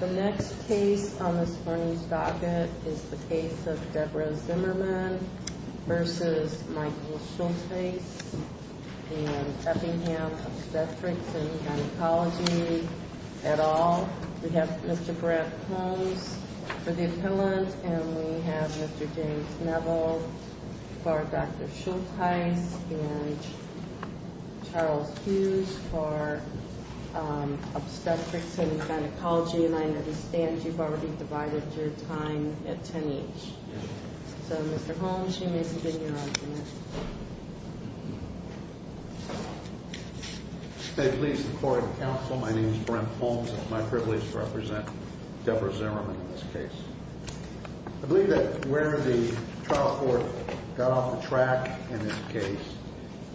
The next case on this morning's docket is the case of Deborah Zimmerman v. Michael Schultheis and Effingham Obstetrics and Gynecology et al. We have Mr. Brett Holmes for the appellant and we have Mr. James Neville for Dr. Schultheis and Charles Hughes for Obstetrics and Gynecology. And I understand you've already divided your time at 10 each. So Mr. Holmes, you may begin your argument. May it please the Court and Counsel, my name is Brent Holmes. It's my privilege to represent Deborah Zimmerman in this case. I believe that where the trial court got off the track in this case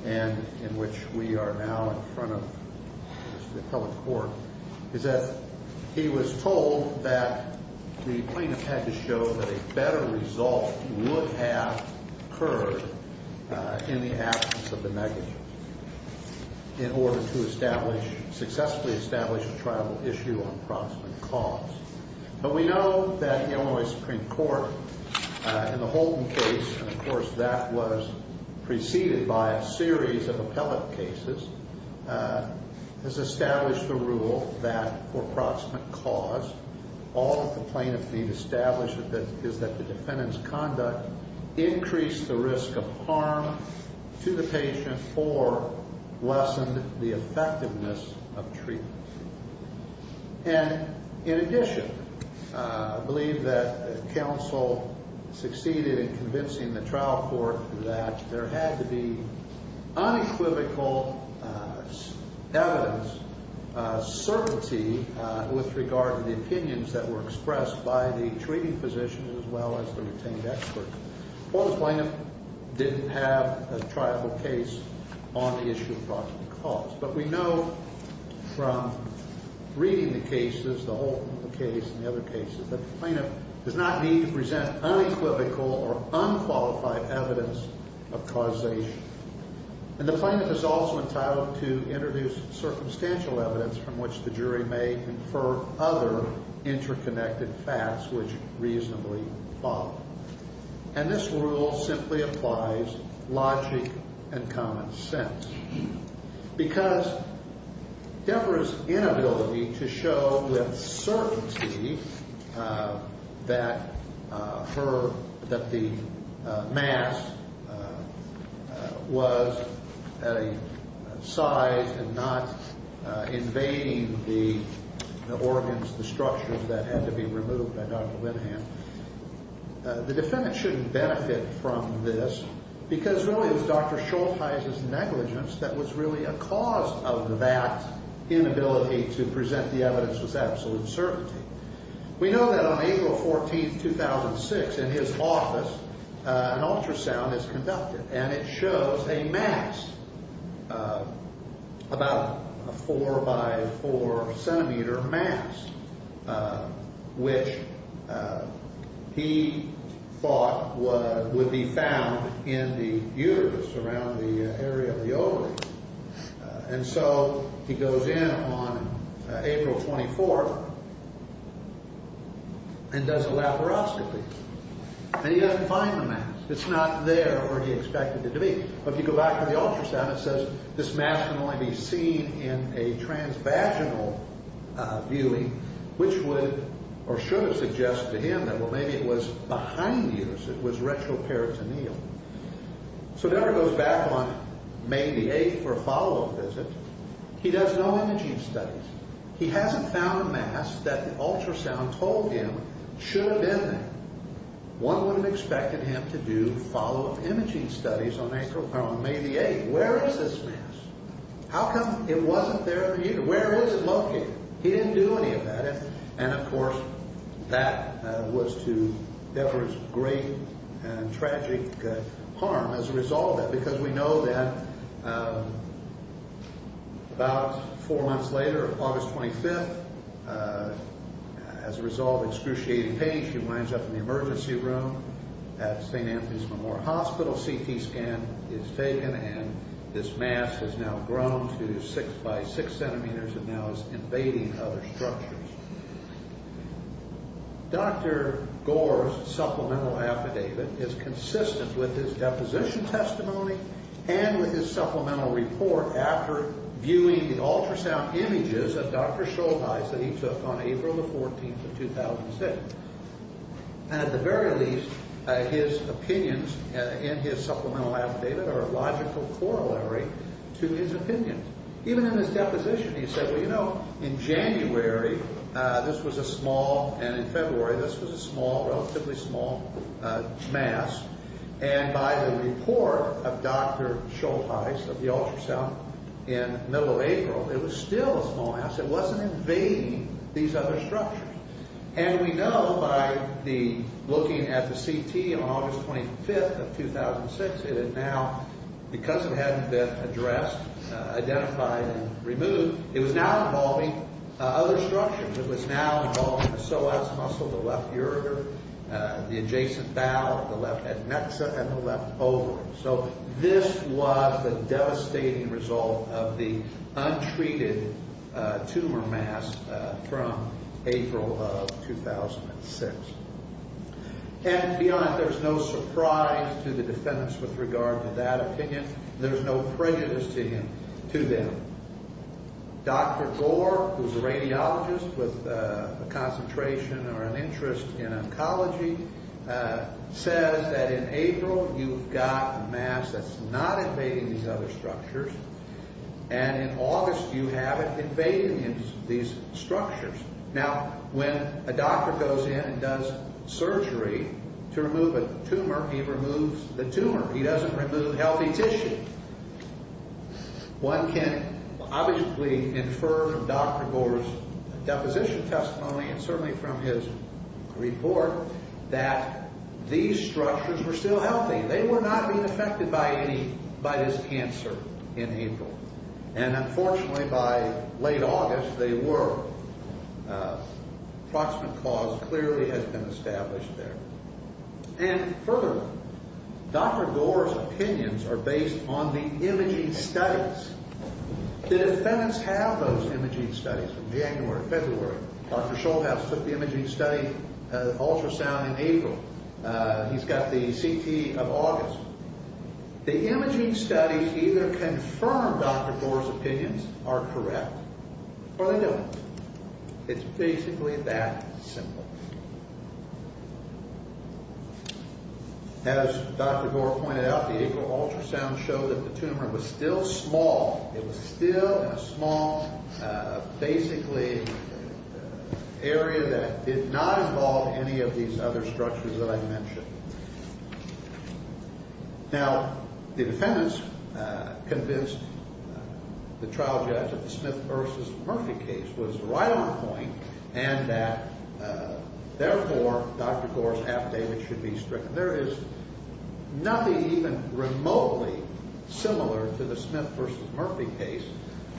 and in which we are now in front of the appellate court, is that he was told that the plaintiff had to show that a better result would have occurred in the absence of the negatives in order to successfully establish a trial issue on proximate cause. But we know that Illinois Supreme Court, in the Holton case, and of course that was preceded by a series of appellate cases, has established a rule that for proximate cause, all that the plaintiff needs to establish is that the defendant's conduct increased the risk of harm to the patient or lessened the effectiveness of treatment. And in addition, I believe that Counsel succeeded in convincing the trial court that there had to be unequivocal evidence, certainty, with regard to the opinions that were expressed by the treating physicians as well as the retained experts. Or the plaintiff didn't have a triable case on the issue of proximate cause. But we know from reading the cases, the Holton case and the other cases, that the plaintiff does not need to present unequivocal or unqualified evidence of causation. And the plaintiff is also entitled to introduce circumstantial evidence from which the jury may infer other interconnected facts which reasonably follow. And this rule simply applies logic and common sense. Because Deborah's inability to show with certainty that the mass was at a size and not invading the organs, the structures that had to be removed by Dr. Winahan, the defendant shouldn't benefit from this because really it was Dr. Schultheis's negligence that was really a cause of that inability to present the evidence with absolute certainty. We know that on April 14, 2006, in his office, an ultrasound is conducted and it shows a mass, about a 4 by 4 centimeter mass, which he thought would be found in the uterus around the area of the ovaries. And so he goes in on April 24 and does a laparoscopy. And he doesn't find the mass. It's not there where he expected it to be. But if you go back to the ultrasound, it says this mass can only be seen in a transvaginal viewing, which would or should have suggested to him that maybe it was behind the uterus. It was retroperitoneal. So Deborah goes back on May the 8th for a follow-up visit. He does no imaging studies. He hasn't found a mass that the ultrasound told him should have been there. One would have expected him to do follow-up imaging studies on May the 8th. Where is this mass? How come it wasn't there in the uterus? Where is it located? He didn't do any of that. And, of course, that was to Deborah's great and tragic harm as a result of that because we know that about four months later, August 25th, as a result of excruciating pain, she winds up in the emergency room at St. Anthony's Memorial Hospital. CT scan is taken, and this mass has now grown to 6 by 6 centimeters and now is invading other structures. Dr. Gore's supplemental affidavit is consistent with his deposition testimony and with his supplemental report after viewing the ultrasound images of Dr. Schollheis that he took on April the 14th of 2006. And at the very least, his opinions in his supplemental affidavit are a logical corollary to his opinions. Even in his deposition, he said, well, you know, in January this was a small and in February this was a small, relatively small mass. And by the report of Dr. Schollheis of the ultrasound in the middle of April, it was still a small mass. It wasn't invading these other structures. And we know by looking at the CT on August 25th of 2006, it had now, because it hadn't been addressed, identified, and removed, it was now involving other structures. It was now involving the psoas muscle, the left ureter, the adjacent bowel, the left adnexa, and the left ovary. So this was the devastating result of the untreated tumor mass from April of 2006. And beyond, there's no surprise to the defendants with regard to that opinion. There's no prejudice to them. Dr. Gore, who's a radiologist with a concentration or an interest in oncology, says that in April you've got a mass that's not invading these other structures, and in August you have it invading these structures. Now, when a doctor goes in and does surgery to remove a tumor, he removes the tumor. He doesn't remove healthy tissue. One can obviously infer from Dr. Gore's deposition testimony and certainly from his report that these structures were still healthy. They were not being affected by this cancer in April. And unfortunately, by late August, they were. Approximate cause clearly has been established there. And further, Dr. Gore's opinions are based on the imaging studies. The defendants have those imaging studies from January, February. Dr. Scholhaus took the imaging study ultrasound in April. He's got the CT of August. The imaging studies either confirm Dr. Gore's opinions are correct or they don't. It's basically that simple. As Dr. Gore pointed out, the April ultrasound showed that the tumor was still small. It was still a small, basically, area that did not involve any of these other structures that I mentioned. Now, the defendants convinced the trial judge that the Smith v. Murphy case was right on point and that, therefore, Dr. Gore's affidavit should be stricken. There is nothing even remotely similar to the Smith v. Murphy case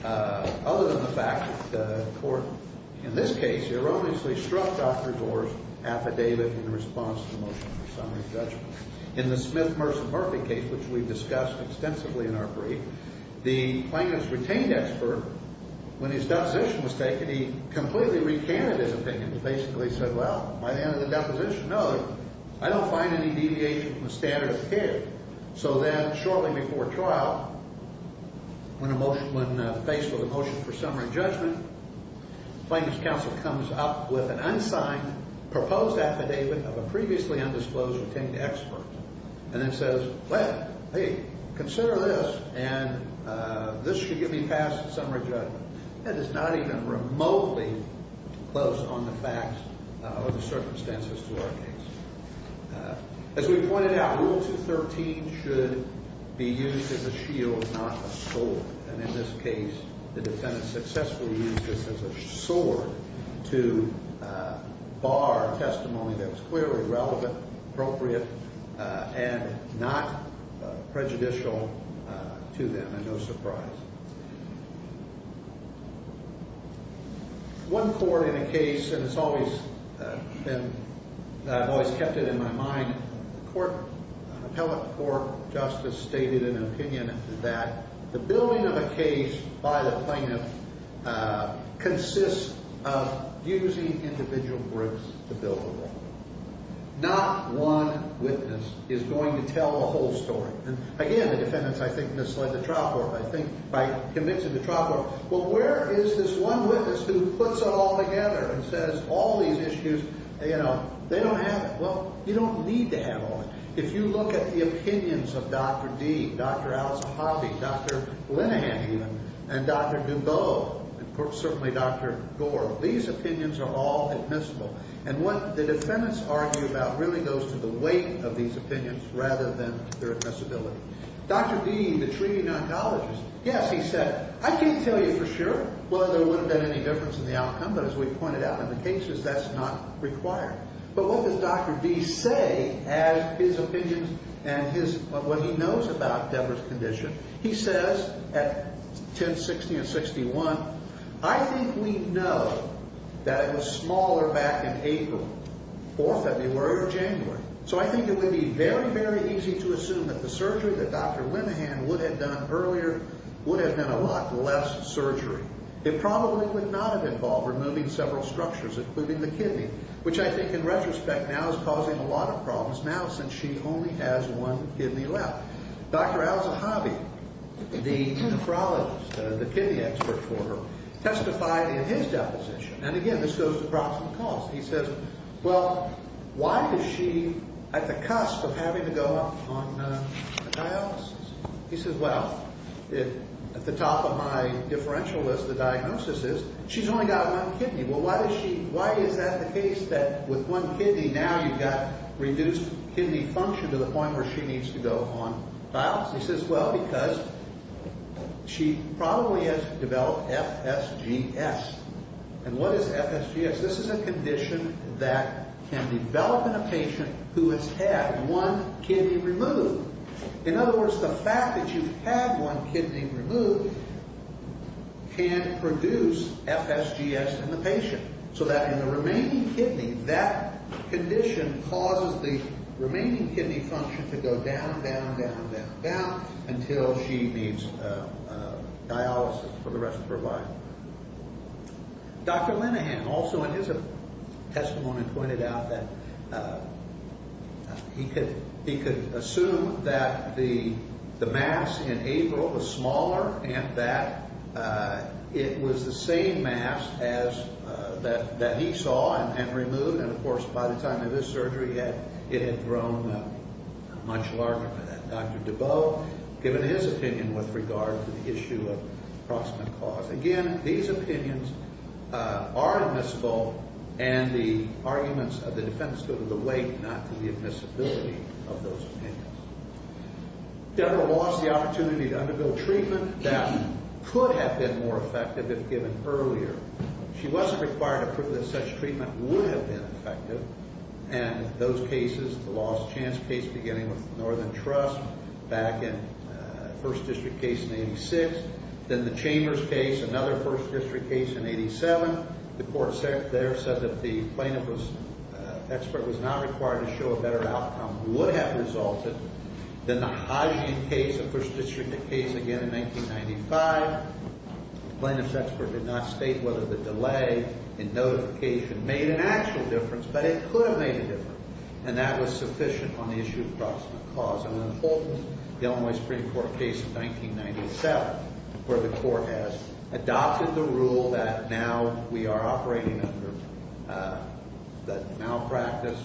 other than the fact that the court, in this case, erroneously struck Dr. Gore's affidavit in response to the motion for summary judgment. In the Smith v. Murphy case, which we discussed extensively in our brief, the plaintiff's retained expert, when his deposition was taken, he completely recanted his opinion. He basically said, well, by the end of the deposition, no, I don't find any deviation from the standard of the case. So then, shortly before trial, when faced with a motion for summary judgment, the plaintiff's counsel comes up with an unsigned proposed affidavit of a previously undisclosed retained expert and then says, well, hey, consider this, and this should get me past summary judgment. That is not even remotely close on the facts or the circumstances to our case. As we pointed out, Rule 213 should be used as a shield, not a sword. And in this case, the defendant successfully used this as a sword to bar testimony that was clearly relevant, appropriate, and not prejudicial to them, and no surprise. One court in a case, and I've always kept it in my mind, an appellate court justice stated an opinion that the billing of a case by the plaintiff consists of using individual groups to bill the role. Not one witness is going to tell the whole story. And again, the defendants, I think, misled the trial court, I think, by convincing the trial court, well, where is this one witness who puts it all together and says all these issues, you know, they don't have it. Well, you don't need to have all of it. If you look at the opinions of Dr. D, Dr. Al-Zahavi, Dr. Linehan, even, and Dr. Dubow, and certainly Dr. Gore, these opinions are all admissible. And what the defendants argue about really goes to the weight of these opinions rather than their admissibility. Dr. D, the treating oncologist, yes, he said, I can't tell you for sure whether there would have been any difference in the outcome, but as we pointed out, in the cases, that's not required. But what does Dr. D say as his opinions and what he knows about Debra's condition? He says at 1060 and 61, I think we know that it was smaller back in April or February or January. So I think it would be very, very easy to assume that the surgery that Dr. Linehan would have done earlier would have been a lot less surgery. It probably would not have involved removing several structures, including the kidney, which I think in retrospect now is causing a lot of problems now since she only has one kidney left. Dr. Al-Zahavi, the necrologist, the kidney expert for her, testified in his deposition, and again, this goes across the cause. He says, well, why is she at the cusp of having to go up on a dialysis? He says, well, at the top of my differential list, the diagnosis is she's only got one kidney. Well, why is that the case that with one kidney now you've got reduced kidney function to the point where she needs to go on dialysis? He says, well, because she probably has developed FSGS. And what is FSGS? This is a condition that can develop in a patient who has had one kidney removed. In other words, the fact that you've had one kidney removed can produce FSGS in the patient so that in the remaining kidney, that condition causes the remaining kidney function to go down, down, down, down, down until she needs dialysis for the rest of her life. Dr. Linehan also in his testimony pointed out that he could assume that the mass in April was smaller and that it was the same mass that he saw and removed. And, of course, by the time of his surgery, it had grown much larger. Dr. Deboe, given his opinion with regard to the issue of proximate cause. Again, these opinions are admissible, and the arguments of the defense go to the weight, not to the admissibility of those opinions. Deborah lost the opportunity to undergo treatment that could have been more effective if given earlier. She wasn't required to prove that such treatment would have been effective, and those cases, the lost chance case beginning with Northern Trust back in First District case in 86, then the Chambers case, another First District case in 87, the court there said that the plaintiff's expert was not required to show a better outcome would have resulted than the Hodgkin case, a First District case again in 1995. The plaintiff's expert did not state whether the delay in notification made an actual difference, but it could have made a difference, and that was sufficient on the issue of proximate cause. And then, of course, the Illinois Supreme Court case in 1997, where the court has adopted the rule that now we are operating under the malpractice,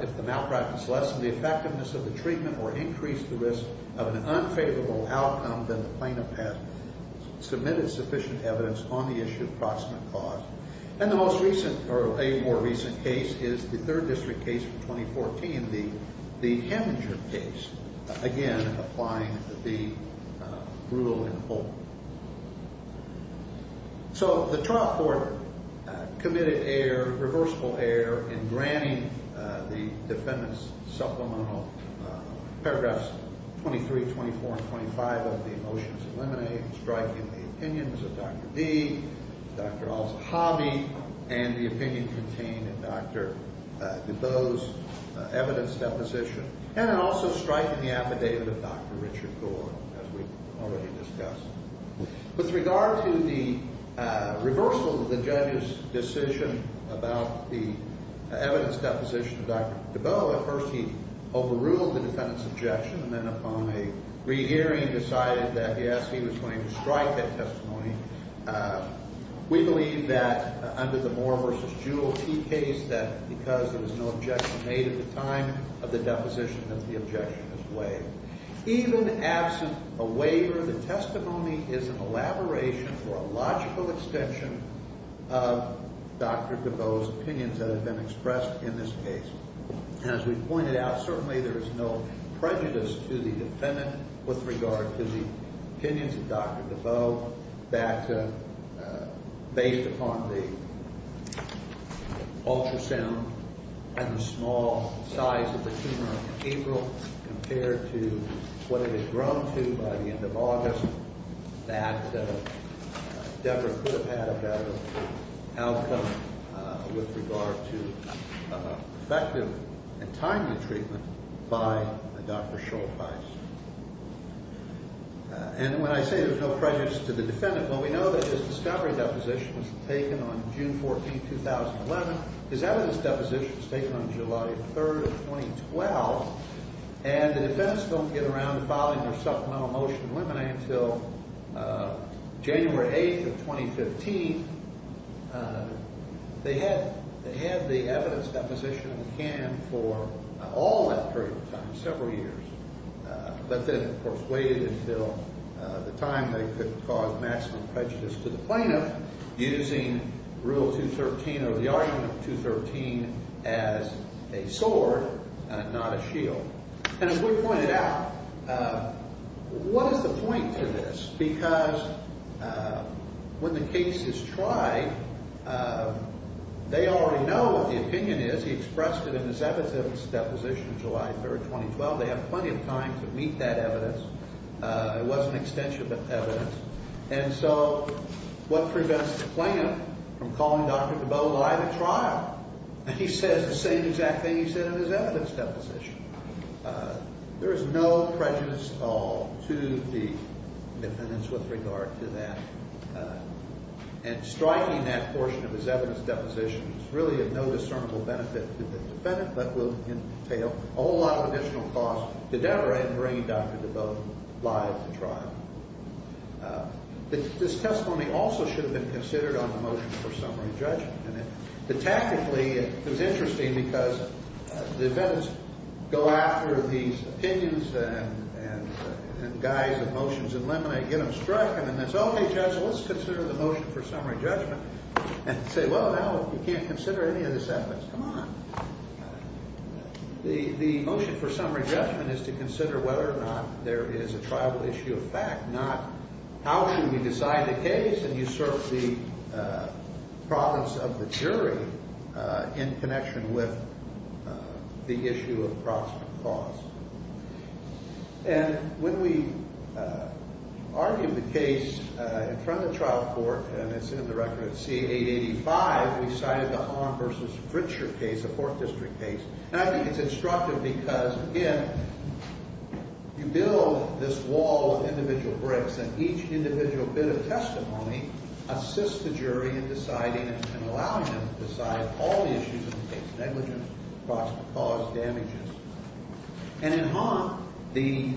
if the malpractice lessened the effectiveness of the treatment or increased the risk of an unfavorable outcome, then the plaintiff has submitted sufficient evidence on the issue of proximate cause. And the most recent or a more recent case is the Third District case from 2014, the Heminger case, again applying the rule in full. So the trial court committed irreversible error in granting the defendant's supplemental paragraphs 23, 24, and 25 of the motions eliminated, striking the opinions of Dr. D, Dr. Al-Zahabi, and the opinion contained in Dr. DuBose's evidence deposition, and also striking the affidavit of Dr. Richard Gore, as we've already discussed. With regard to the reversal of the judge's decision about the evidence deposition of Dr. DuBose, at first he overruled the defendant's objection, and then upon a re-hearing decided that, yes, he was going to strike that testimony. We believe that under the Moore v. Jewell key case that because there was no objection made at the time of the deposition that the objection was waived. Even absent a waiver, the testimony is an elaboration or a logical extension of Dr. DuBose's opinions that have been expressed in this case. As we've pointed out, certainly there is no prejudice to the defendant with regard to the opinions of Dr. DuBose that based upon the ultrasound and the small size of the tumor in April, compared to what it had grown to by the end of August, that Deborah could have had a better outcome with regard to effective and timely treatment by Dr. Schollheis. And when I say there's no prejudice to the defendant, well, we know that his discovery deposition was taken on June 14, 2011. His evidence deposition was taken on July 3, 2012, and the defense don't get around to filing their supplemental motion of limine until January 8 of 2015. They had the evidence deposition in the can for all that period of time, several years, but then, of course, waited until the time they could cause maximum prejudice to the plaintiff using Rule 213 or the argument of 213 as a sword, not a shield. And as we pointed out, what is the point to this? Because when the case is tried, they already know what the opinion is. He expressed it in his evidence deposition July 3, 2012. They have plenty of time to meet that evidence. It was an extension of evidence. And so what prevents the plaintiff from calling Dr. DeBoe live at trial? And he says the same exact thing he said in his evidence deposition. There is no prejudice at all to the defendants with regard to that. And striking that portion of his evidence deposition is really of no discernible benefit to the defendant but will entail a whole lot of additional costs to Deborah in bringing Dr. DeBoe live to trial. This testimony also should have been considered on the motion for summary judgment. But tactically, it was interesting because the defendants go after these opinions and guys and motions in limine, get them struck, and then say, okay, Judge, let's consider the motion for summary judgment, and say, well, now you can't consider any of the sentiments. Come on. The motion for summary judgment is to consider whether or not there is a tribal issue of fact, not how should we decide the case and usurp the province of the jury in connection with the issue of proximate cause. And when we argued the case in front of the trial court, and it's in the record at C-885, we cited the Arm v. Fritcher case, a Fourth District case. And I think it's instructive because, again, you build this wall of individual bricks, and each individual bit of testimony assists the jury in deciding and allowing them to decide all the issues of the case, negligence, proximate cause, damages. And in Hon, the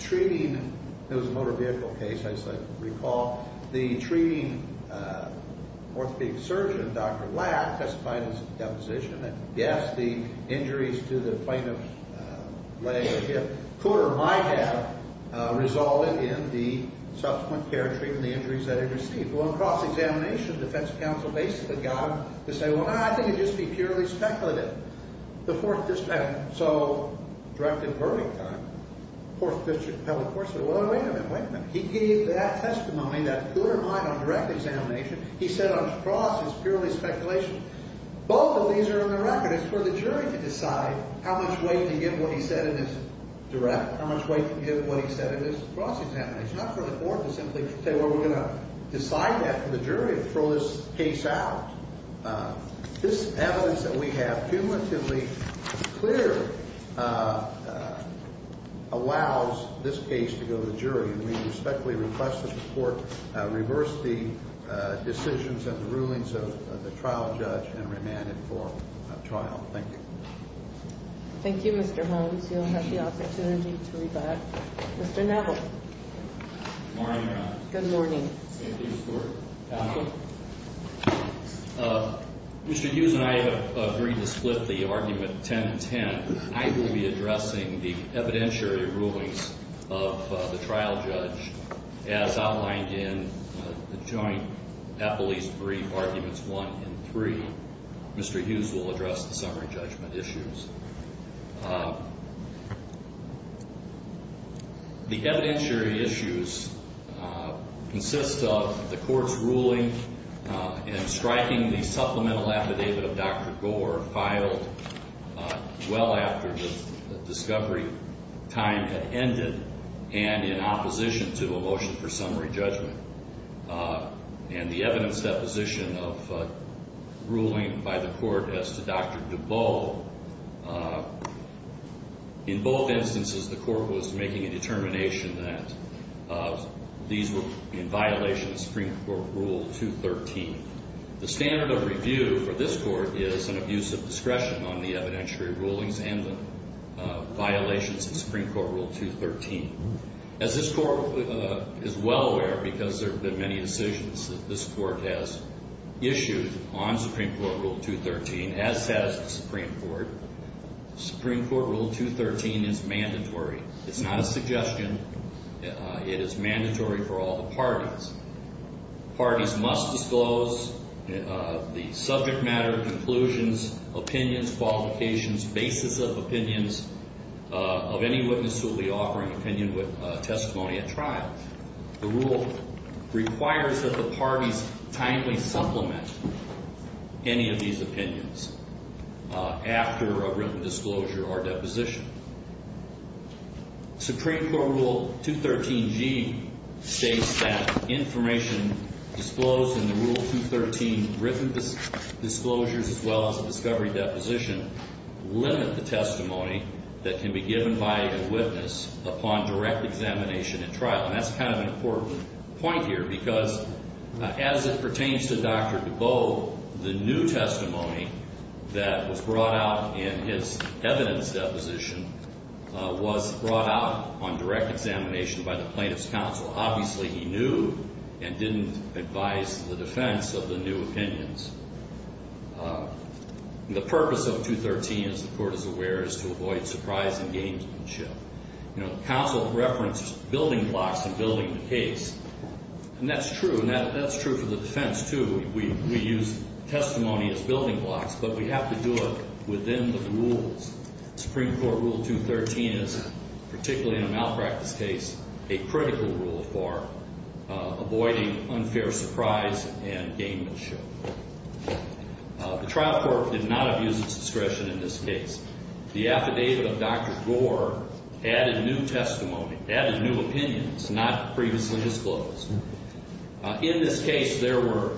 treating, it was a motor vehicle case, I recall, the treating orthopedic surgeon, Dr. Lack, testified in his deposition that, yes, the injuries to the plaintiff's leg or hip, could or might have resulted in the subsequent care and treatment of the injuries that he received. Well, in cross-examination, the defense counsel basically got him to say, well, I think it would just be purely speculative. The Fourth District, and so, directed Burdington, Fourth District appellate court, said, well, wait a minute, wait a minute. He gave that testimony that could or might on direct examination. He said on cross, it's purely speculation. Both of these are in the record. It's for the jury to decide how much weight to give what he said in his direct, how much weight to give what he said in his cross-examination. Not for the court to simply say, well, we're going to decide that for the jury and throw this case out. This evidence that we have cumulatively clear allows this case to go to the jury, and we respectfully request that the court reverse the decisions and the rulings of the trial judge and remand it for trial. Thank you. Thank you, Mr. Holmes. You'll have the opportunity to rebut. Mr. Neville. Good morning, Your Honor. Good morning. Mr. Hughes and I have agreed to split the argument 10-10. I will be addressing the evidentiary rulings of the trial judge. As outlined in the joint appellee's brief arguments one and three, Mr. Hughes will address the summary judgment issues. The evidentiary issues consist of the court's ruling in striking the supplemental affidavit of Dr. Gore filed well after the discovery time had ended and in opposition to a motion for summary judgment. And the evidence deposition of ruling by the court as to Dr. Dubow in both instances the court was making a determination that these were in violation of Supreme Court Rule 213. The standard of review for this court is an abuse of discretion on the evidentiary rulings and the violations of Supreme Court Rule 213. As this court is well aware because there have been many decisions that this court has issued on Supreme Court Rule 213, as has the Supreme Court, Supreme Court Rule 213 is mandatory. It's not a suggestion. It is mandatory for all the parties. Parties must disclose the subject matter, conclusions, opinions, qualifications, basis of opinions of any witness who will be offering opinion with testimony at trial. The rule requires that the parties timely supplement any of these opinions after a written disclosure or deposition. Supreme Court Rule 213G states that information disclosed in the Rule 213 written disclosures as well as a discovery deposition limit the testimony that can be given by a witness upon direct examination at trial. And that's kind of an important point here because as it pertains to Dr. Dubow, the new testimony that was brought out in his evidence deposition was brought out on direct examination by the plaintiff's counsel. Obviously he knew and didn't advise the defense of the new opinions. The purpose of 213, as the court is aware, is to avoid surprise and gamesmanship. You know, the counsel referenced building blocks and building the case, and that's true, and that's true for the defense too. We use testimony as building blocks, but we have to do it within the rules. Supreme Court Rule 213 is, particularly in a malpractice case, a critical rule for avoiding unfair surprise and gamesmanship. The trial court did not abuse its discretion in this case. The affidavit of Dr. Gore added new testimony, added new opinions not previously disclosed. In this case there were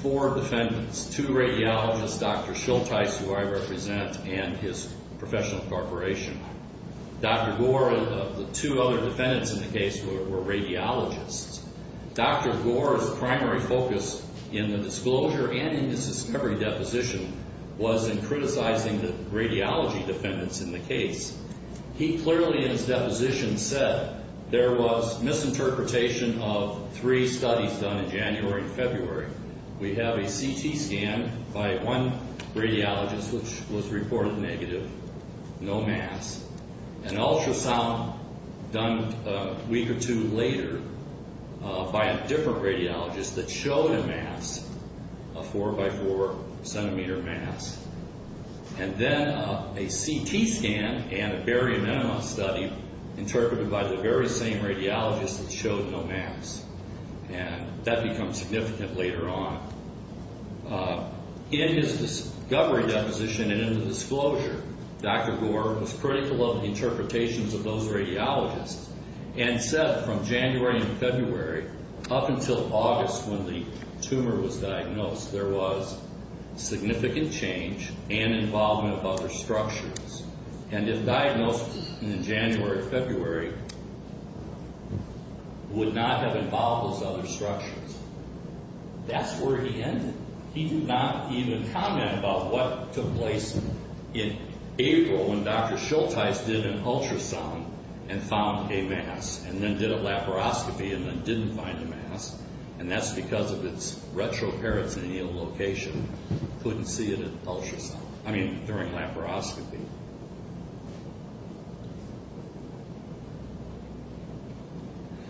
four defendants, two radiologists, Dr. Schulteis, who I represent, and his professional corporation. Dr. Gore and the two other defendants in the case were radiologists. Dr. Gore's primary focus in the disclosure and in his discovery deposition was in criticizing the radiology defendants in the case. He clearly in his deposition said there was misinterpretation of three studies done in January and February. We have a CT scan by one radiologist which was reported negative, no mass. An ultrasound done a week or two later by a different radiologist that showed a mass, a 4 by 4 centimeter mass. And then a CT scan and a barium enema study interpreted by the very same radiologist that showed no mass. And that becomes significant later on. In his discovery deposition and in the disclosure, Dr. Gore was critical of the interpretations of those radiologists and said from January and February up until August when the tumor was diagnosed there was significant change and involvement of other structures. And if diagnosed in January, February, would not have involved those other structures, that's where he ended. He did not even comment about what took place in April when Dr. Schultes did an ultrasound and found a mass and then did a laparoscopy and then didn't find a mass. And that's because of its retroperitoneal location. Couldn't see it in ultrasound. I mean during laparoscopy.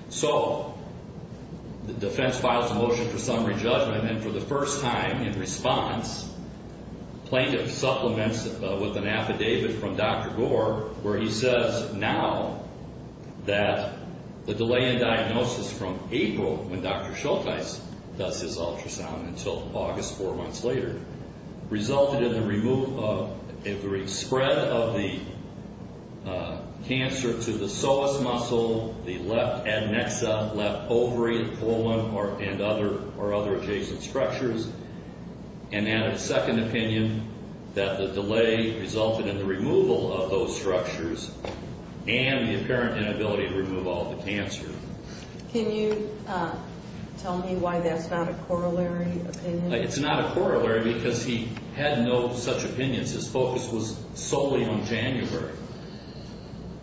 So the defense files a motion for summary judgment and for the first time in response, plaintiff supplements with an affidavit from Dr. Gore where he says now that the delay in diagnosis from April when Dr. Schultes does his ultrasound until August four months later resulted in the spread of the cancer to the psoas muscle, the left adnexa, left ovary, colon, and other adjacent structures. And then a second opinion that the delay resulted in the removal of those structures and the apparent inability to remove all the cancer. Can you tell me why that's not a corollary opinion? It's not a corollary because he had no such opinions. His focus was solely on January.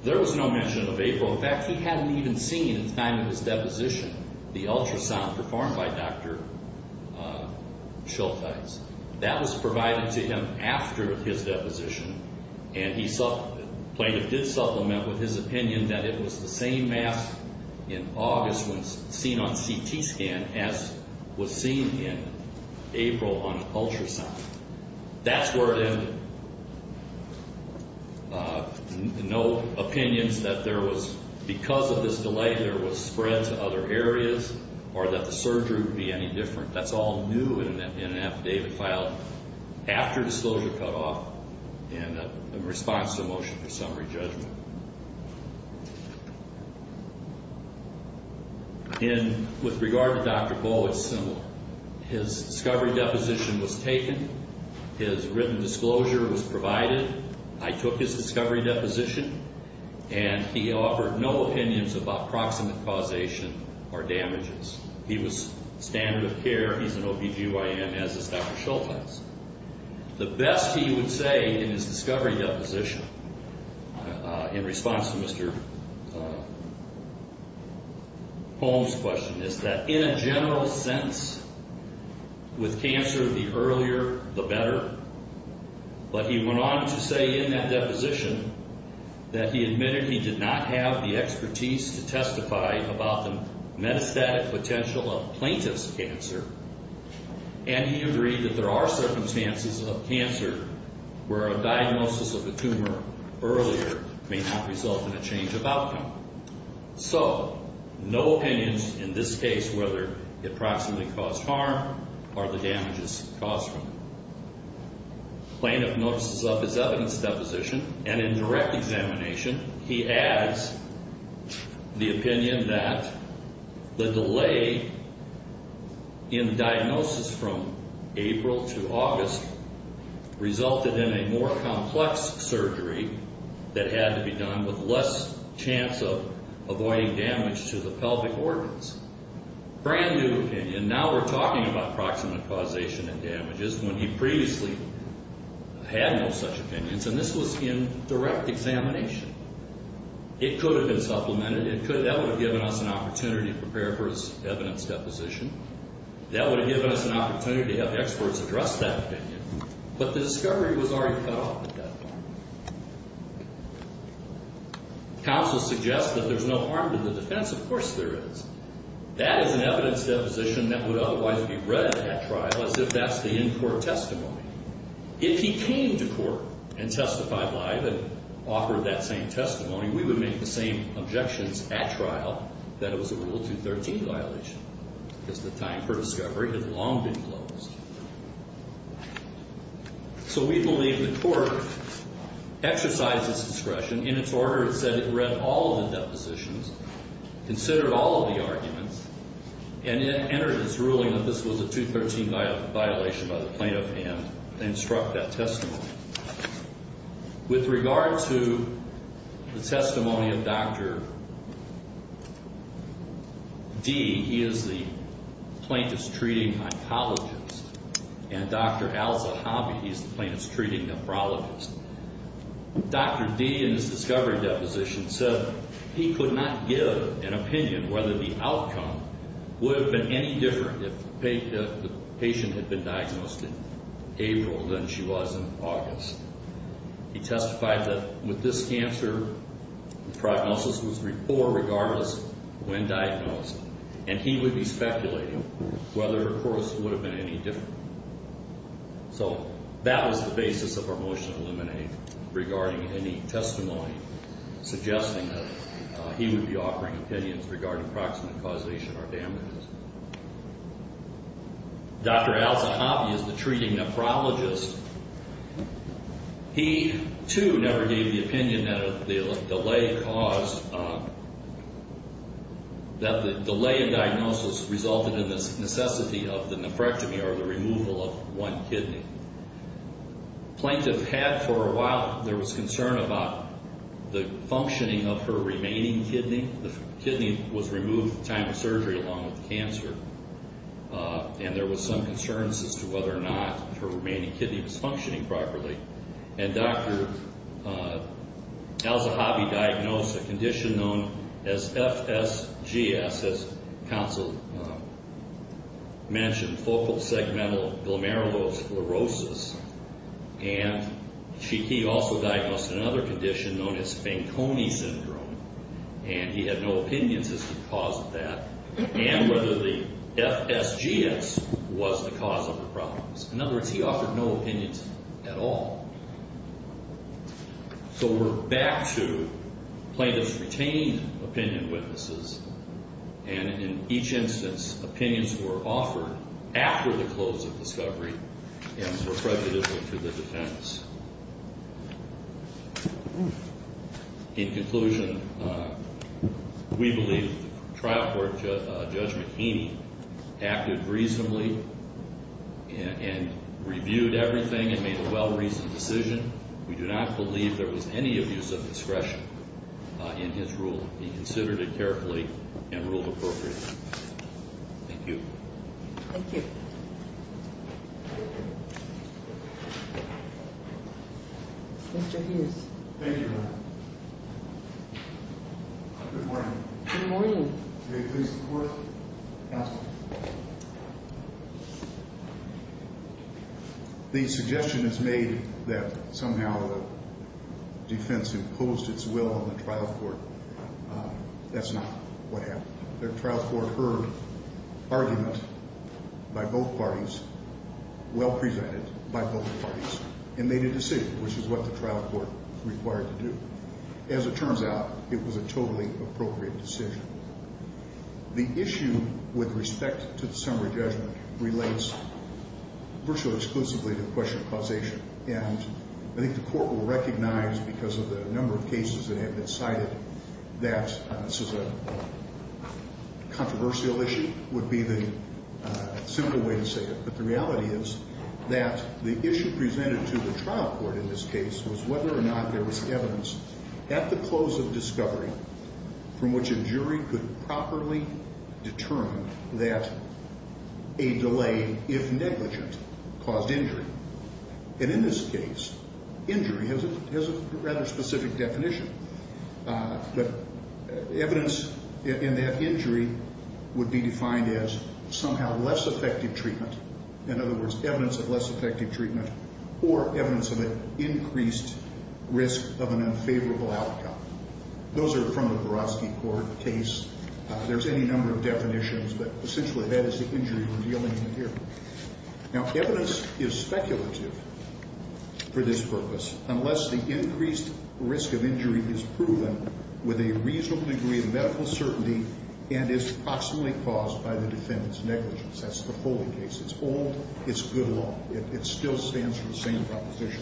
There was no mention of April. In fact, he hadn't even seen at the time of his deposition the ultrasound performed by Dr. Schultes. That was provided to him after his deposition. And he supplemented, plaintiff did supplement with his opinion that it was the same mass in August when seen on CT scan as was seen in April on ultrasound. That's where it ended. No opinions that there was, because of this delay, there was spread to other areas or that the surgery would be any different. That's all new in an affidavit filed after disclosure cut off and in response to the motion for summary judgment. And with regard to Dr. Bowe, it's similar. His discovery deposition was taken. His written disclosure was provided. I took his discovery deposition. And he offered no opinions about proximate causation or damages. He was standard of care. He's an OBGYN, as is Dr. Schultes. The best he would say in his discovery deposition in response to Mr. Holmes' question is that in a general sense, with cancer, the earlier, the better. But he went on to say in that deposition that he admitted he did not have the expertise to testify about the metastatic potential of plaintiff's cancer, and he agreed that there are circumstances of cancer where a diagnosis of a tumor earlier may not result in a change of outcome. So, no opinions in this case whether it proximately caused harm or the damages caused from it. Plaintiff notices up his evidence deposition, and in direct examination, he adds the opinion that the delay in diagnosis from April to August resulted in a more complex surgery that had to be done with less chance of avoiding damage to the pelvic organs. Brand new opinion. Now we're talking about proximate causation and damages when he previously had no such opinions. And this was in direct examination. It could have been supplemented. That would have given us an opportunity to prepare for his evidence deposition. That would have given us an opportunity to have experts address that opinion. But the discovery was already cut off at that point. Counsel suggests that there's no harm to the defense. Of course there is. That is an evidence deposition that would otherwise be read at trial as if that's the in-court testimony. If he came to court and testified live and offered that same testimony, we would make the same objections at trial that it was a Rule 213 violation because the time for discovery had long been closed. So we believe the court exercised its discretion. In its order, it said it read all of the depositions, considered all of the arguments, and it entered its ruling that this was a 213 violation by the plaintiff and struck that testimony. With regard to the testimony of Dr. D, he is the plaintiff's treating mycologist, and Dr. Al Zahavi, he's the plaintiff's treating nephrologist. Dr. D, in his discovery deposition, said he could not give an opinion whether the outcome would have been any different if the patient had been diagnosed in April than she was in August. He testified that with this cancer, the prognosis was poor regardless when diagnosed, and he would be speculating whether, of course, it would have been any different. So that was the basis of our motion to eliminate regarding any testimony suggesting that he would be offering opinions regarding proximate causation or damages. Dr. Al Zahavi is the treating nephrologist. He, too, never gave the opinion that the delay caused, that the delay in diagnosis resulted in the necessity of the nephrectomy or the removal of one kidney. The plaintiff had for a while, there was concern about the functioning of her remaining kidney. The kidney was removed at the time of surgery along with the cancer. And there was some concerns as to whether or not her remaining kidney was functioning properly. And Dr. Al Zahavi diagnosed a condition known as FSGS, as counsel mentioned, focal segmental glomerulosclerosis. And he also diagnosed another condition known as Fanconi syndrome. And he had no opinions as to the cause of that and whether the FSGS was the cause of the problems. In other words, he offered no opinions at all. So we're back to plaintiffs retaining opinion witnesses. And in each instance, opinions were offered after the close of discovery and were prejudicial to the defendants. In conclusion, we believe that the trial court, Judge McKinney, acted reasonably and reviewed everything and made a well-reasoned decision. We do not believe there was any abuse of discretion in his rule. He considered it carefully and ruled appropriately. Thank you. Thank you. Mr. Hughes. Thank you, Your Honor. Good morning. Good morning. May it please the Court. Counsel. The suggestion is made that somehow the defense imposed its will on the trial court. That's not what happened. The trial court heard argument by both parties, well-presented by both parties. And made a decision, which is what the trial court required to do. As it turns out, it was a totally appropriate decision. The issue with respect to the summary judgment relates virtually exclusively to the question of causation. And I think the Court will recognize, because of the number of cases that have been cited, that this is a controversial issue, would be the simple way to say it. But the reality is that the issue presented to the trial court in this case was whether or not there was evidence at the close of discovery from which a jury could properly determine that a delay, if negligent, caused injury. And in this case, injury has a rather specific definition. But evidence in that injury would be defined as somehow less effective treatment. In other words, evidence of less effective treatment or evidence of an increased risk of an unfavorable outcome. Those are from the Vorotsky Court case. There's any number of definitions, but essentially that is the injury we're dealing with here. Now, evidence is speculative for this purpose. Unless the increased risk of injury is proven with a reasonable degree of medical certainty and is proximately caused by the defendant's negligence. That's the Foley case. It's old. It's good law. It still stands for the same proposition.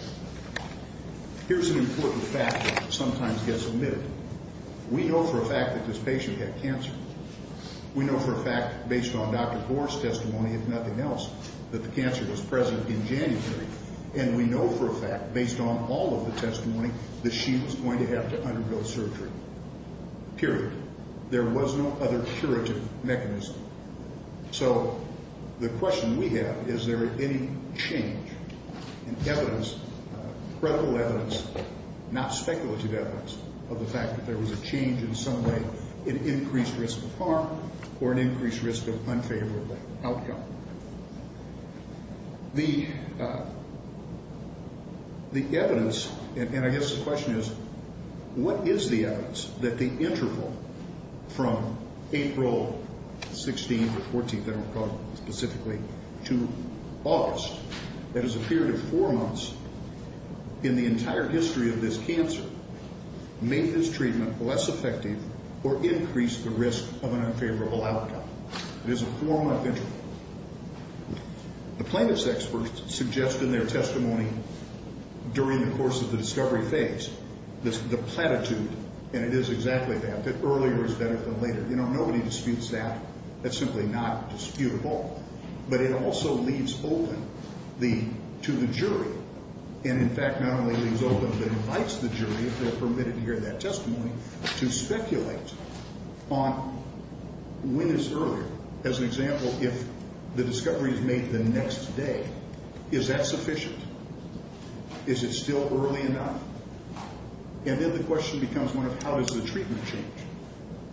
Here's an important fact that sometimes gets omitted. We know for a fact that this patient had cancer. We know for a fact, based on Dr. Gore's testimony, if nothing else, that the cancer was present in January. And we know for a fact, based on all of the testimony, that she was going to have to undergo surgery. Period. There was no other curative mechanism. So the question we have, is there any change in evidence, credible evidence, not speculative evidence, of the fact that there was a change in some way in increased risk of harm or an increased risk of unfavorable outcome. The evidence, and I guess the question is, what is the evidence that the interval from April 16th or 14th, I don't recall specifically, to August, that is a period of four months in the entire history of this cancer, made this treatment less effective or increased the risk of an unfavorable outcome. It is a four-month interval. The plaintiff's experts suggest in their testimony during the course of the discovery phase, the platitude, and it is exactly that, that earlier is better than later. You know, nobody disputes that. That's simply not disputable. But it also leaves open to the jury, and in fact not only leaves open, but invites the jury, if they're permitted to hear that testimony, to speculate on when is earlier. As an example, if the discovery is made the next day, is that sufficient? Is it still early enough? And then the question becomes one of how does the treatment change?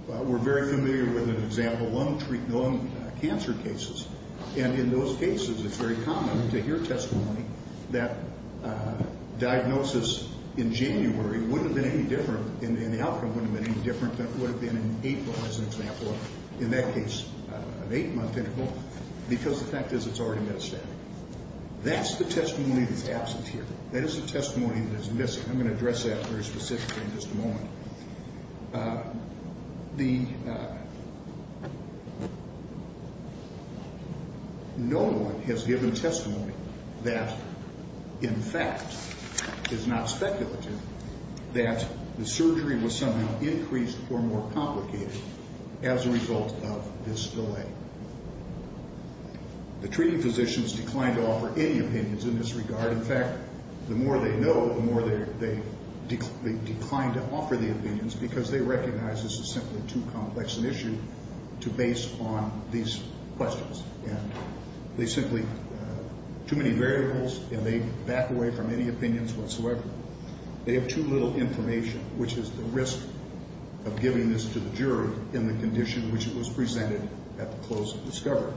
We're very familiar with an example, lung cancer cases, and in those cases it's very common to hear testimony that diagnosis in January wouldn't have been any different and the outcome wouldn't have been any different than it would have been in April, as an example. In that case, an eight-month interval, because the fact is it's already metastatic. That's the testimony that's absent here. That is the testimony that is missing. I'm going to address that very specifically in just a moment. No one has given testimony that, in fact, is not speculative, that the surgery was somehow increased or more complicated as a result of this delay. The treating physicians declined to offer any opinions in this regard. In fact, the more they know, the more they decline to offer the opinions because they recognize this is simply too complex an issue to base on these questions. And they simply, too many variables, and they back away from any opinions whatsoever. They have too little information, which is the risk of giving this to the jury in the condition in which it was presented at the close of discovery.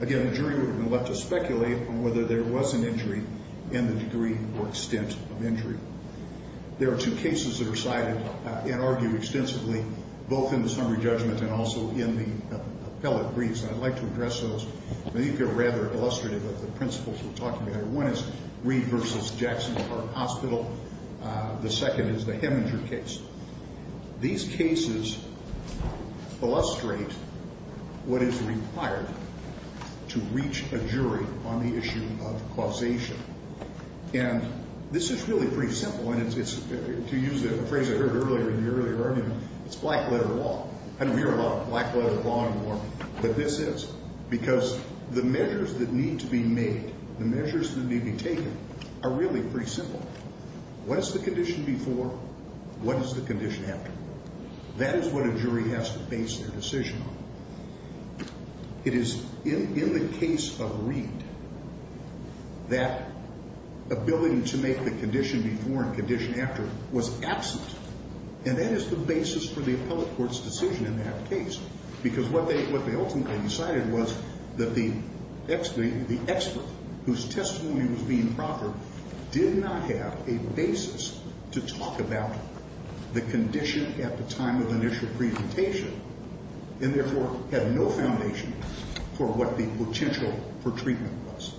Again, the jury would have been left to speculate on whether there was an injury and the degree or extent of injury. There are two cases that are cited and argued extensively, both in the summary judgment and also in the appellate briefs, and I'd like to address those. I think they're rather illustrative of the principles we're talking about here. One is Reed v. Jackson Park Hospital. The second is the Heminger case. These cases illustrate what is required to reach a jury on the issue of causation. And this is really pretty simple, and to use a phrase I heard earlier in the earlier argument, it's black-letter law. I don't hear a lot of black-letter law anymore, but this is, because the measures that need to be made, the measures that need to be taken, are really pretty simple. What is the condition before? What is the condition after? That is what a jury has to base their decision on. It is in the case of Reed that ability to make the condition before and condition after was absent, and that is the basis for the appellate court's decision in that case, because what they ultimately decided was that the expert, whose testimony was being proper, did not have a basis to talk about the condition at the time of initial presentation and therefore had no foundation for what the potential for treatment was.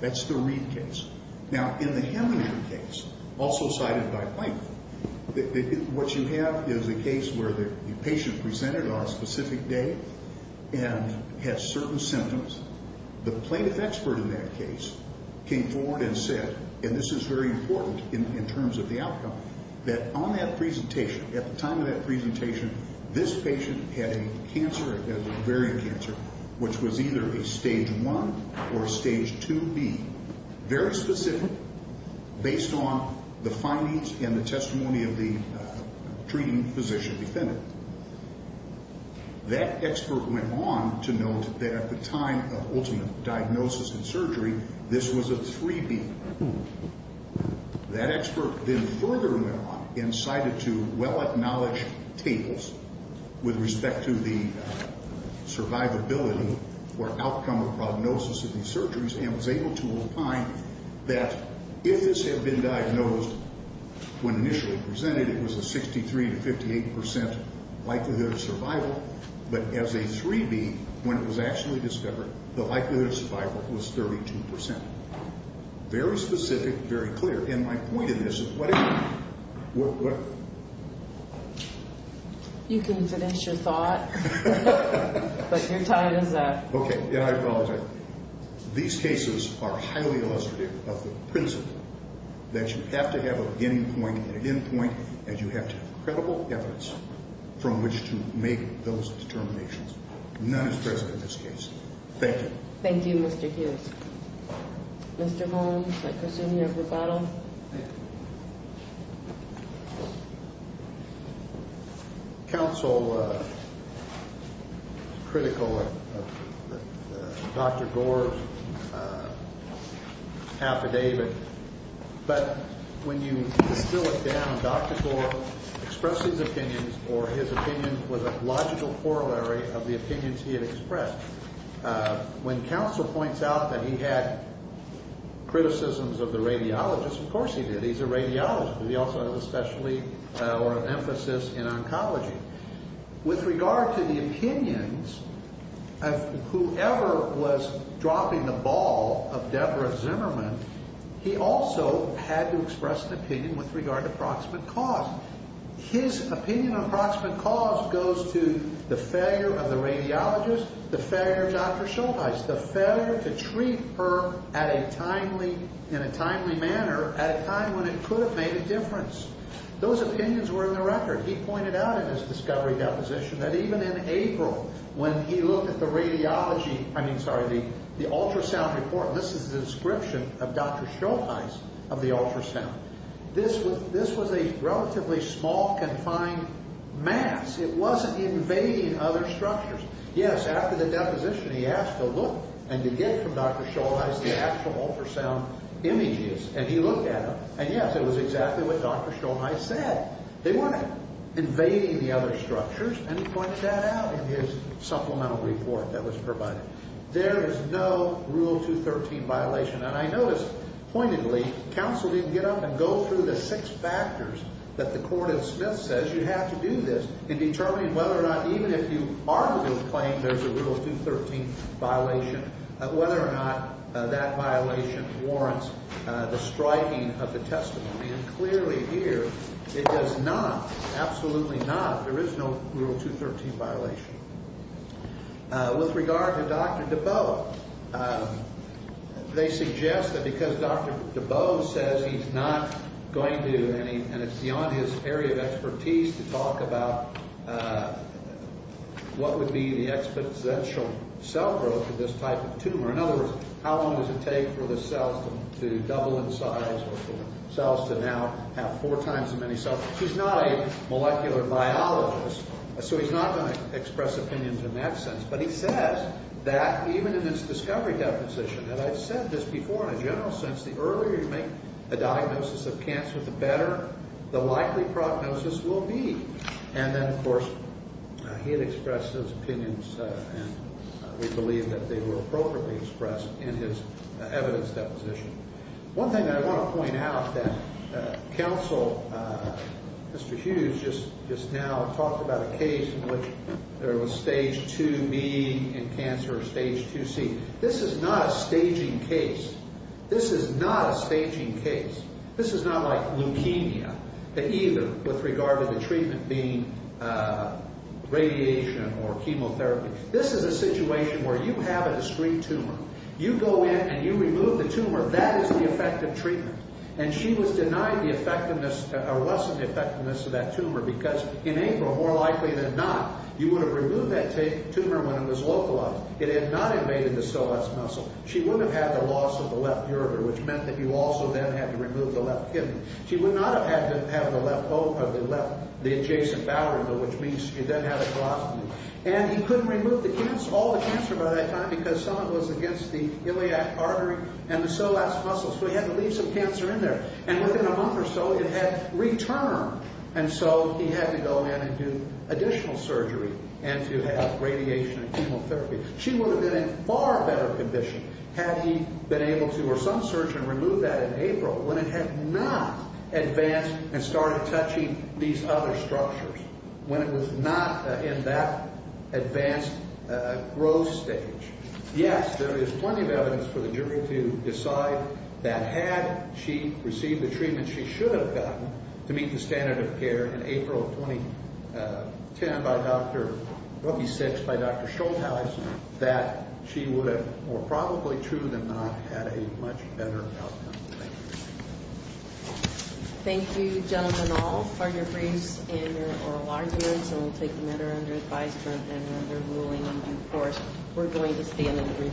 That's the Reed case. Now, in the Heminger case, also cited by Plank, what you have is a case where the patient presented on a specific day and had certain symptoms. The plaintiff expert in that case came forward and said, and this is very important in terms of the outcome, that on that presentation, at the time of that presentation, this patient had a cancer, a ovarian cancer, which was either a Stage 1 or a Stage 2B, very specific based on the findings and the testimony of the treating physician defendant. That expert went on to note that at the time of ultimate diagnosis and surgery, this was a 3B. That expert then further went on and cited two well-acknowledged tables with respect to the survivability or outcome or prognosis of these surgeries and was able to opine that if this had been diagnosed when initially presented, it was a 63 to 58 percent likelihood of survival, but as a 3B, when it was actually discovered, the likelihood of survival was 32 percent. Very specific, very clear. And my point in this is whatever... You can finish your thought, but your time is up. Okay, and I apologize. These cases are highly illustrative of the principle that you have to have a beginning point and an end point, and you have to have credible efforts from which to make those determinations. None is present in this case. Thank you. Thank you, Mr. Hughes. Mr. Holmes, I question you of rebuttal. Thank you. Counsel is critical of Dr. Gore's affidavit, but when you distill it down, Dr. Gore expressed his opinions or his opinions with a logical corollary of the opinions he had expressed. When counsel points out that he had criticisms of the radiologist, of course he did. He's a radiologist. He also has an emphasis in oncology. With regard to the opinions of whoever was dropping the ball of Deborah Zimmerman, he also had to express an opinion with regard to proximate cause. His opinion on proximate cause goes to the failure of the radiologist, the failure of Dr. Schultheis, the failure to treat her in a timely manner at a time when it could have made a difference. Those opinions were in the record. He pointed out in his discovery deposition that even in April, when he looked at the ultrasound report, and this is the description of Dr. Schultheis of the ultrasound, this was a relatively small, confined mass. It wasn't invading other structures. Yes, after the deposition, he asked to look and to get from Dr. Schultheis the actual ultrasound images, and he looked at them, and yes, it was exactly what Dr. Schultheis said. They weren't invading the other structures, and he points that out in his supplemental report that was provided. There is no Rule 213 violation, and I noticed pointedly counsel didn't get up and go through the six factors that the court of Smith says you have to do this in determining whether or not, even if you are to do the claim, there's a Rule 213 violation, whether or not that violation warrants the striking of the testimony, and clearly here, it does not. Absolutely not. There is no Rule 213 violation. With regard to Dr. DeBow, they suggest that because Dr. DeBow says he's not going to, and it's beyond his area of expertise to talk about what would be the exponential cell growth of this type of tumor. In other words, how long does it take for the cells to double in size or for cells to now have four times as many cells? He's not a molecular biologist, so he's not going to express opinions in that sense, but he says that even in his discovery deposition, and I've said this before in a general sense, the earlier you make a diagnosis of cancer, the better the likely prognosis will be. And then, of course, he had expressed those opinions, and we believe that they were appropriately expressed in his evidence deposition. One thing that I want to point out that counsel, Mr. Hughes, just now talked about a case in which there was stage 2B in cancer or stage 2C. This is not a staging case. This is not a staging case. This is not like leukemia, either, with regard to the treatment being radiation or chemotherapy. This is a situation where you have a discrete tumor. You go in and you remove the tumor. That is the effective treatment, and she was denied the effectiveness or wasn't the effectiveness of that tumor because in April, more likely than not, you would have removed that tumor when it was localized. It had not invaded the psoas muscle. She wouldn't have had the loss of the left ureter, which meant that you also then had to remove the left kidney. She would not have had to have the adjacent bowel, which means she then had a prostate. And he couldn't remove all the cancer by that time because some of it was against the iliac artery and the psoas muscles, so he had to leave some cancer in there. And within a month or so, it had returned, and so he had to go in and do additional surgery and to have radiation and chemotherapy. She would have been in far better condition had he been able to, or some surgeon, remove that in April when it had not advanced and started touching these other structures, when it was not in that advanced growth stage. Yes, there is plenty of evidence for the jury to decide that had she received the treatment she should have gotten to meet the standard of care in April of 2010 by Dr. Schultheis, that she would have, more probably true than not, had a much better outcome. Thank you, gentlemen, all, for your briefs and your oral arguments, and we'll take them at our under advisement and under ruling in due course. We're going to stay in a brief recess. All rise.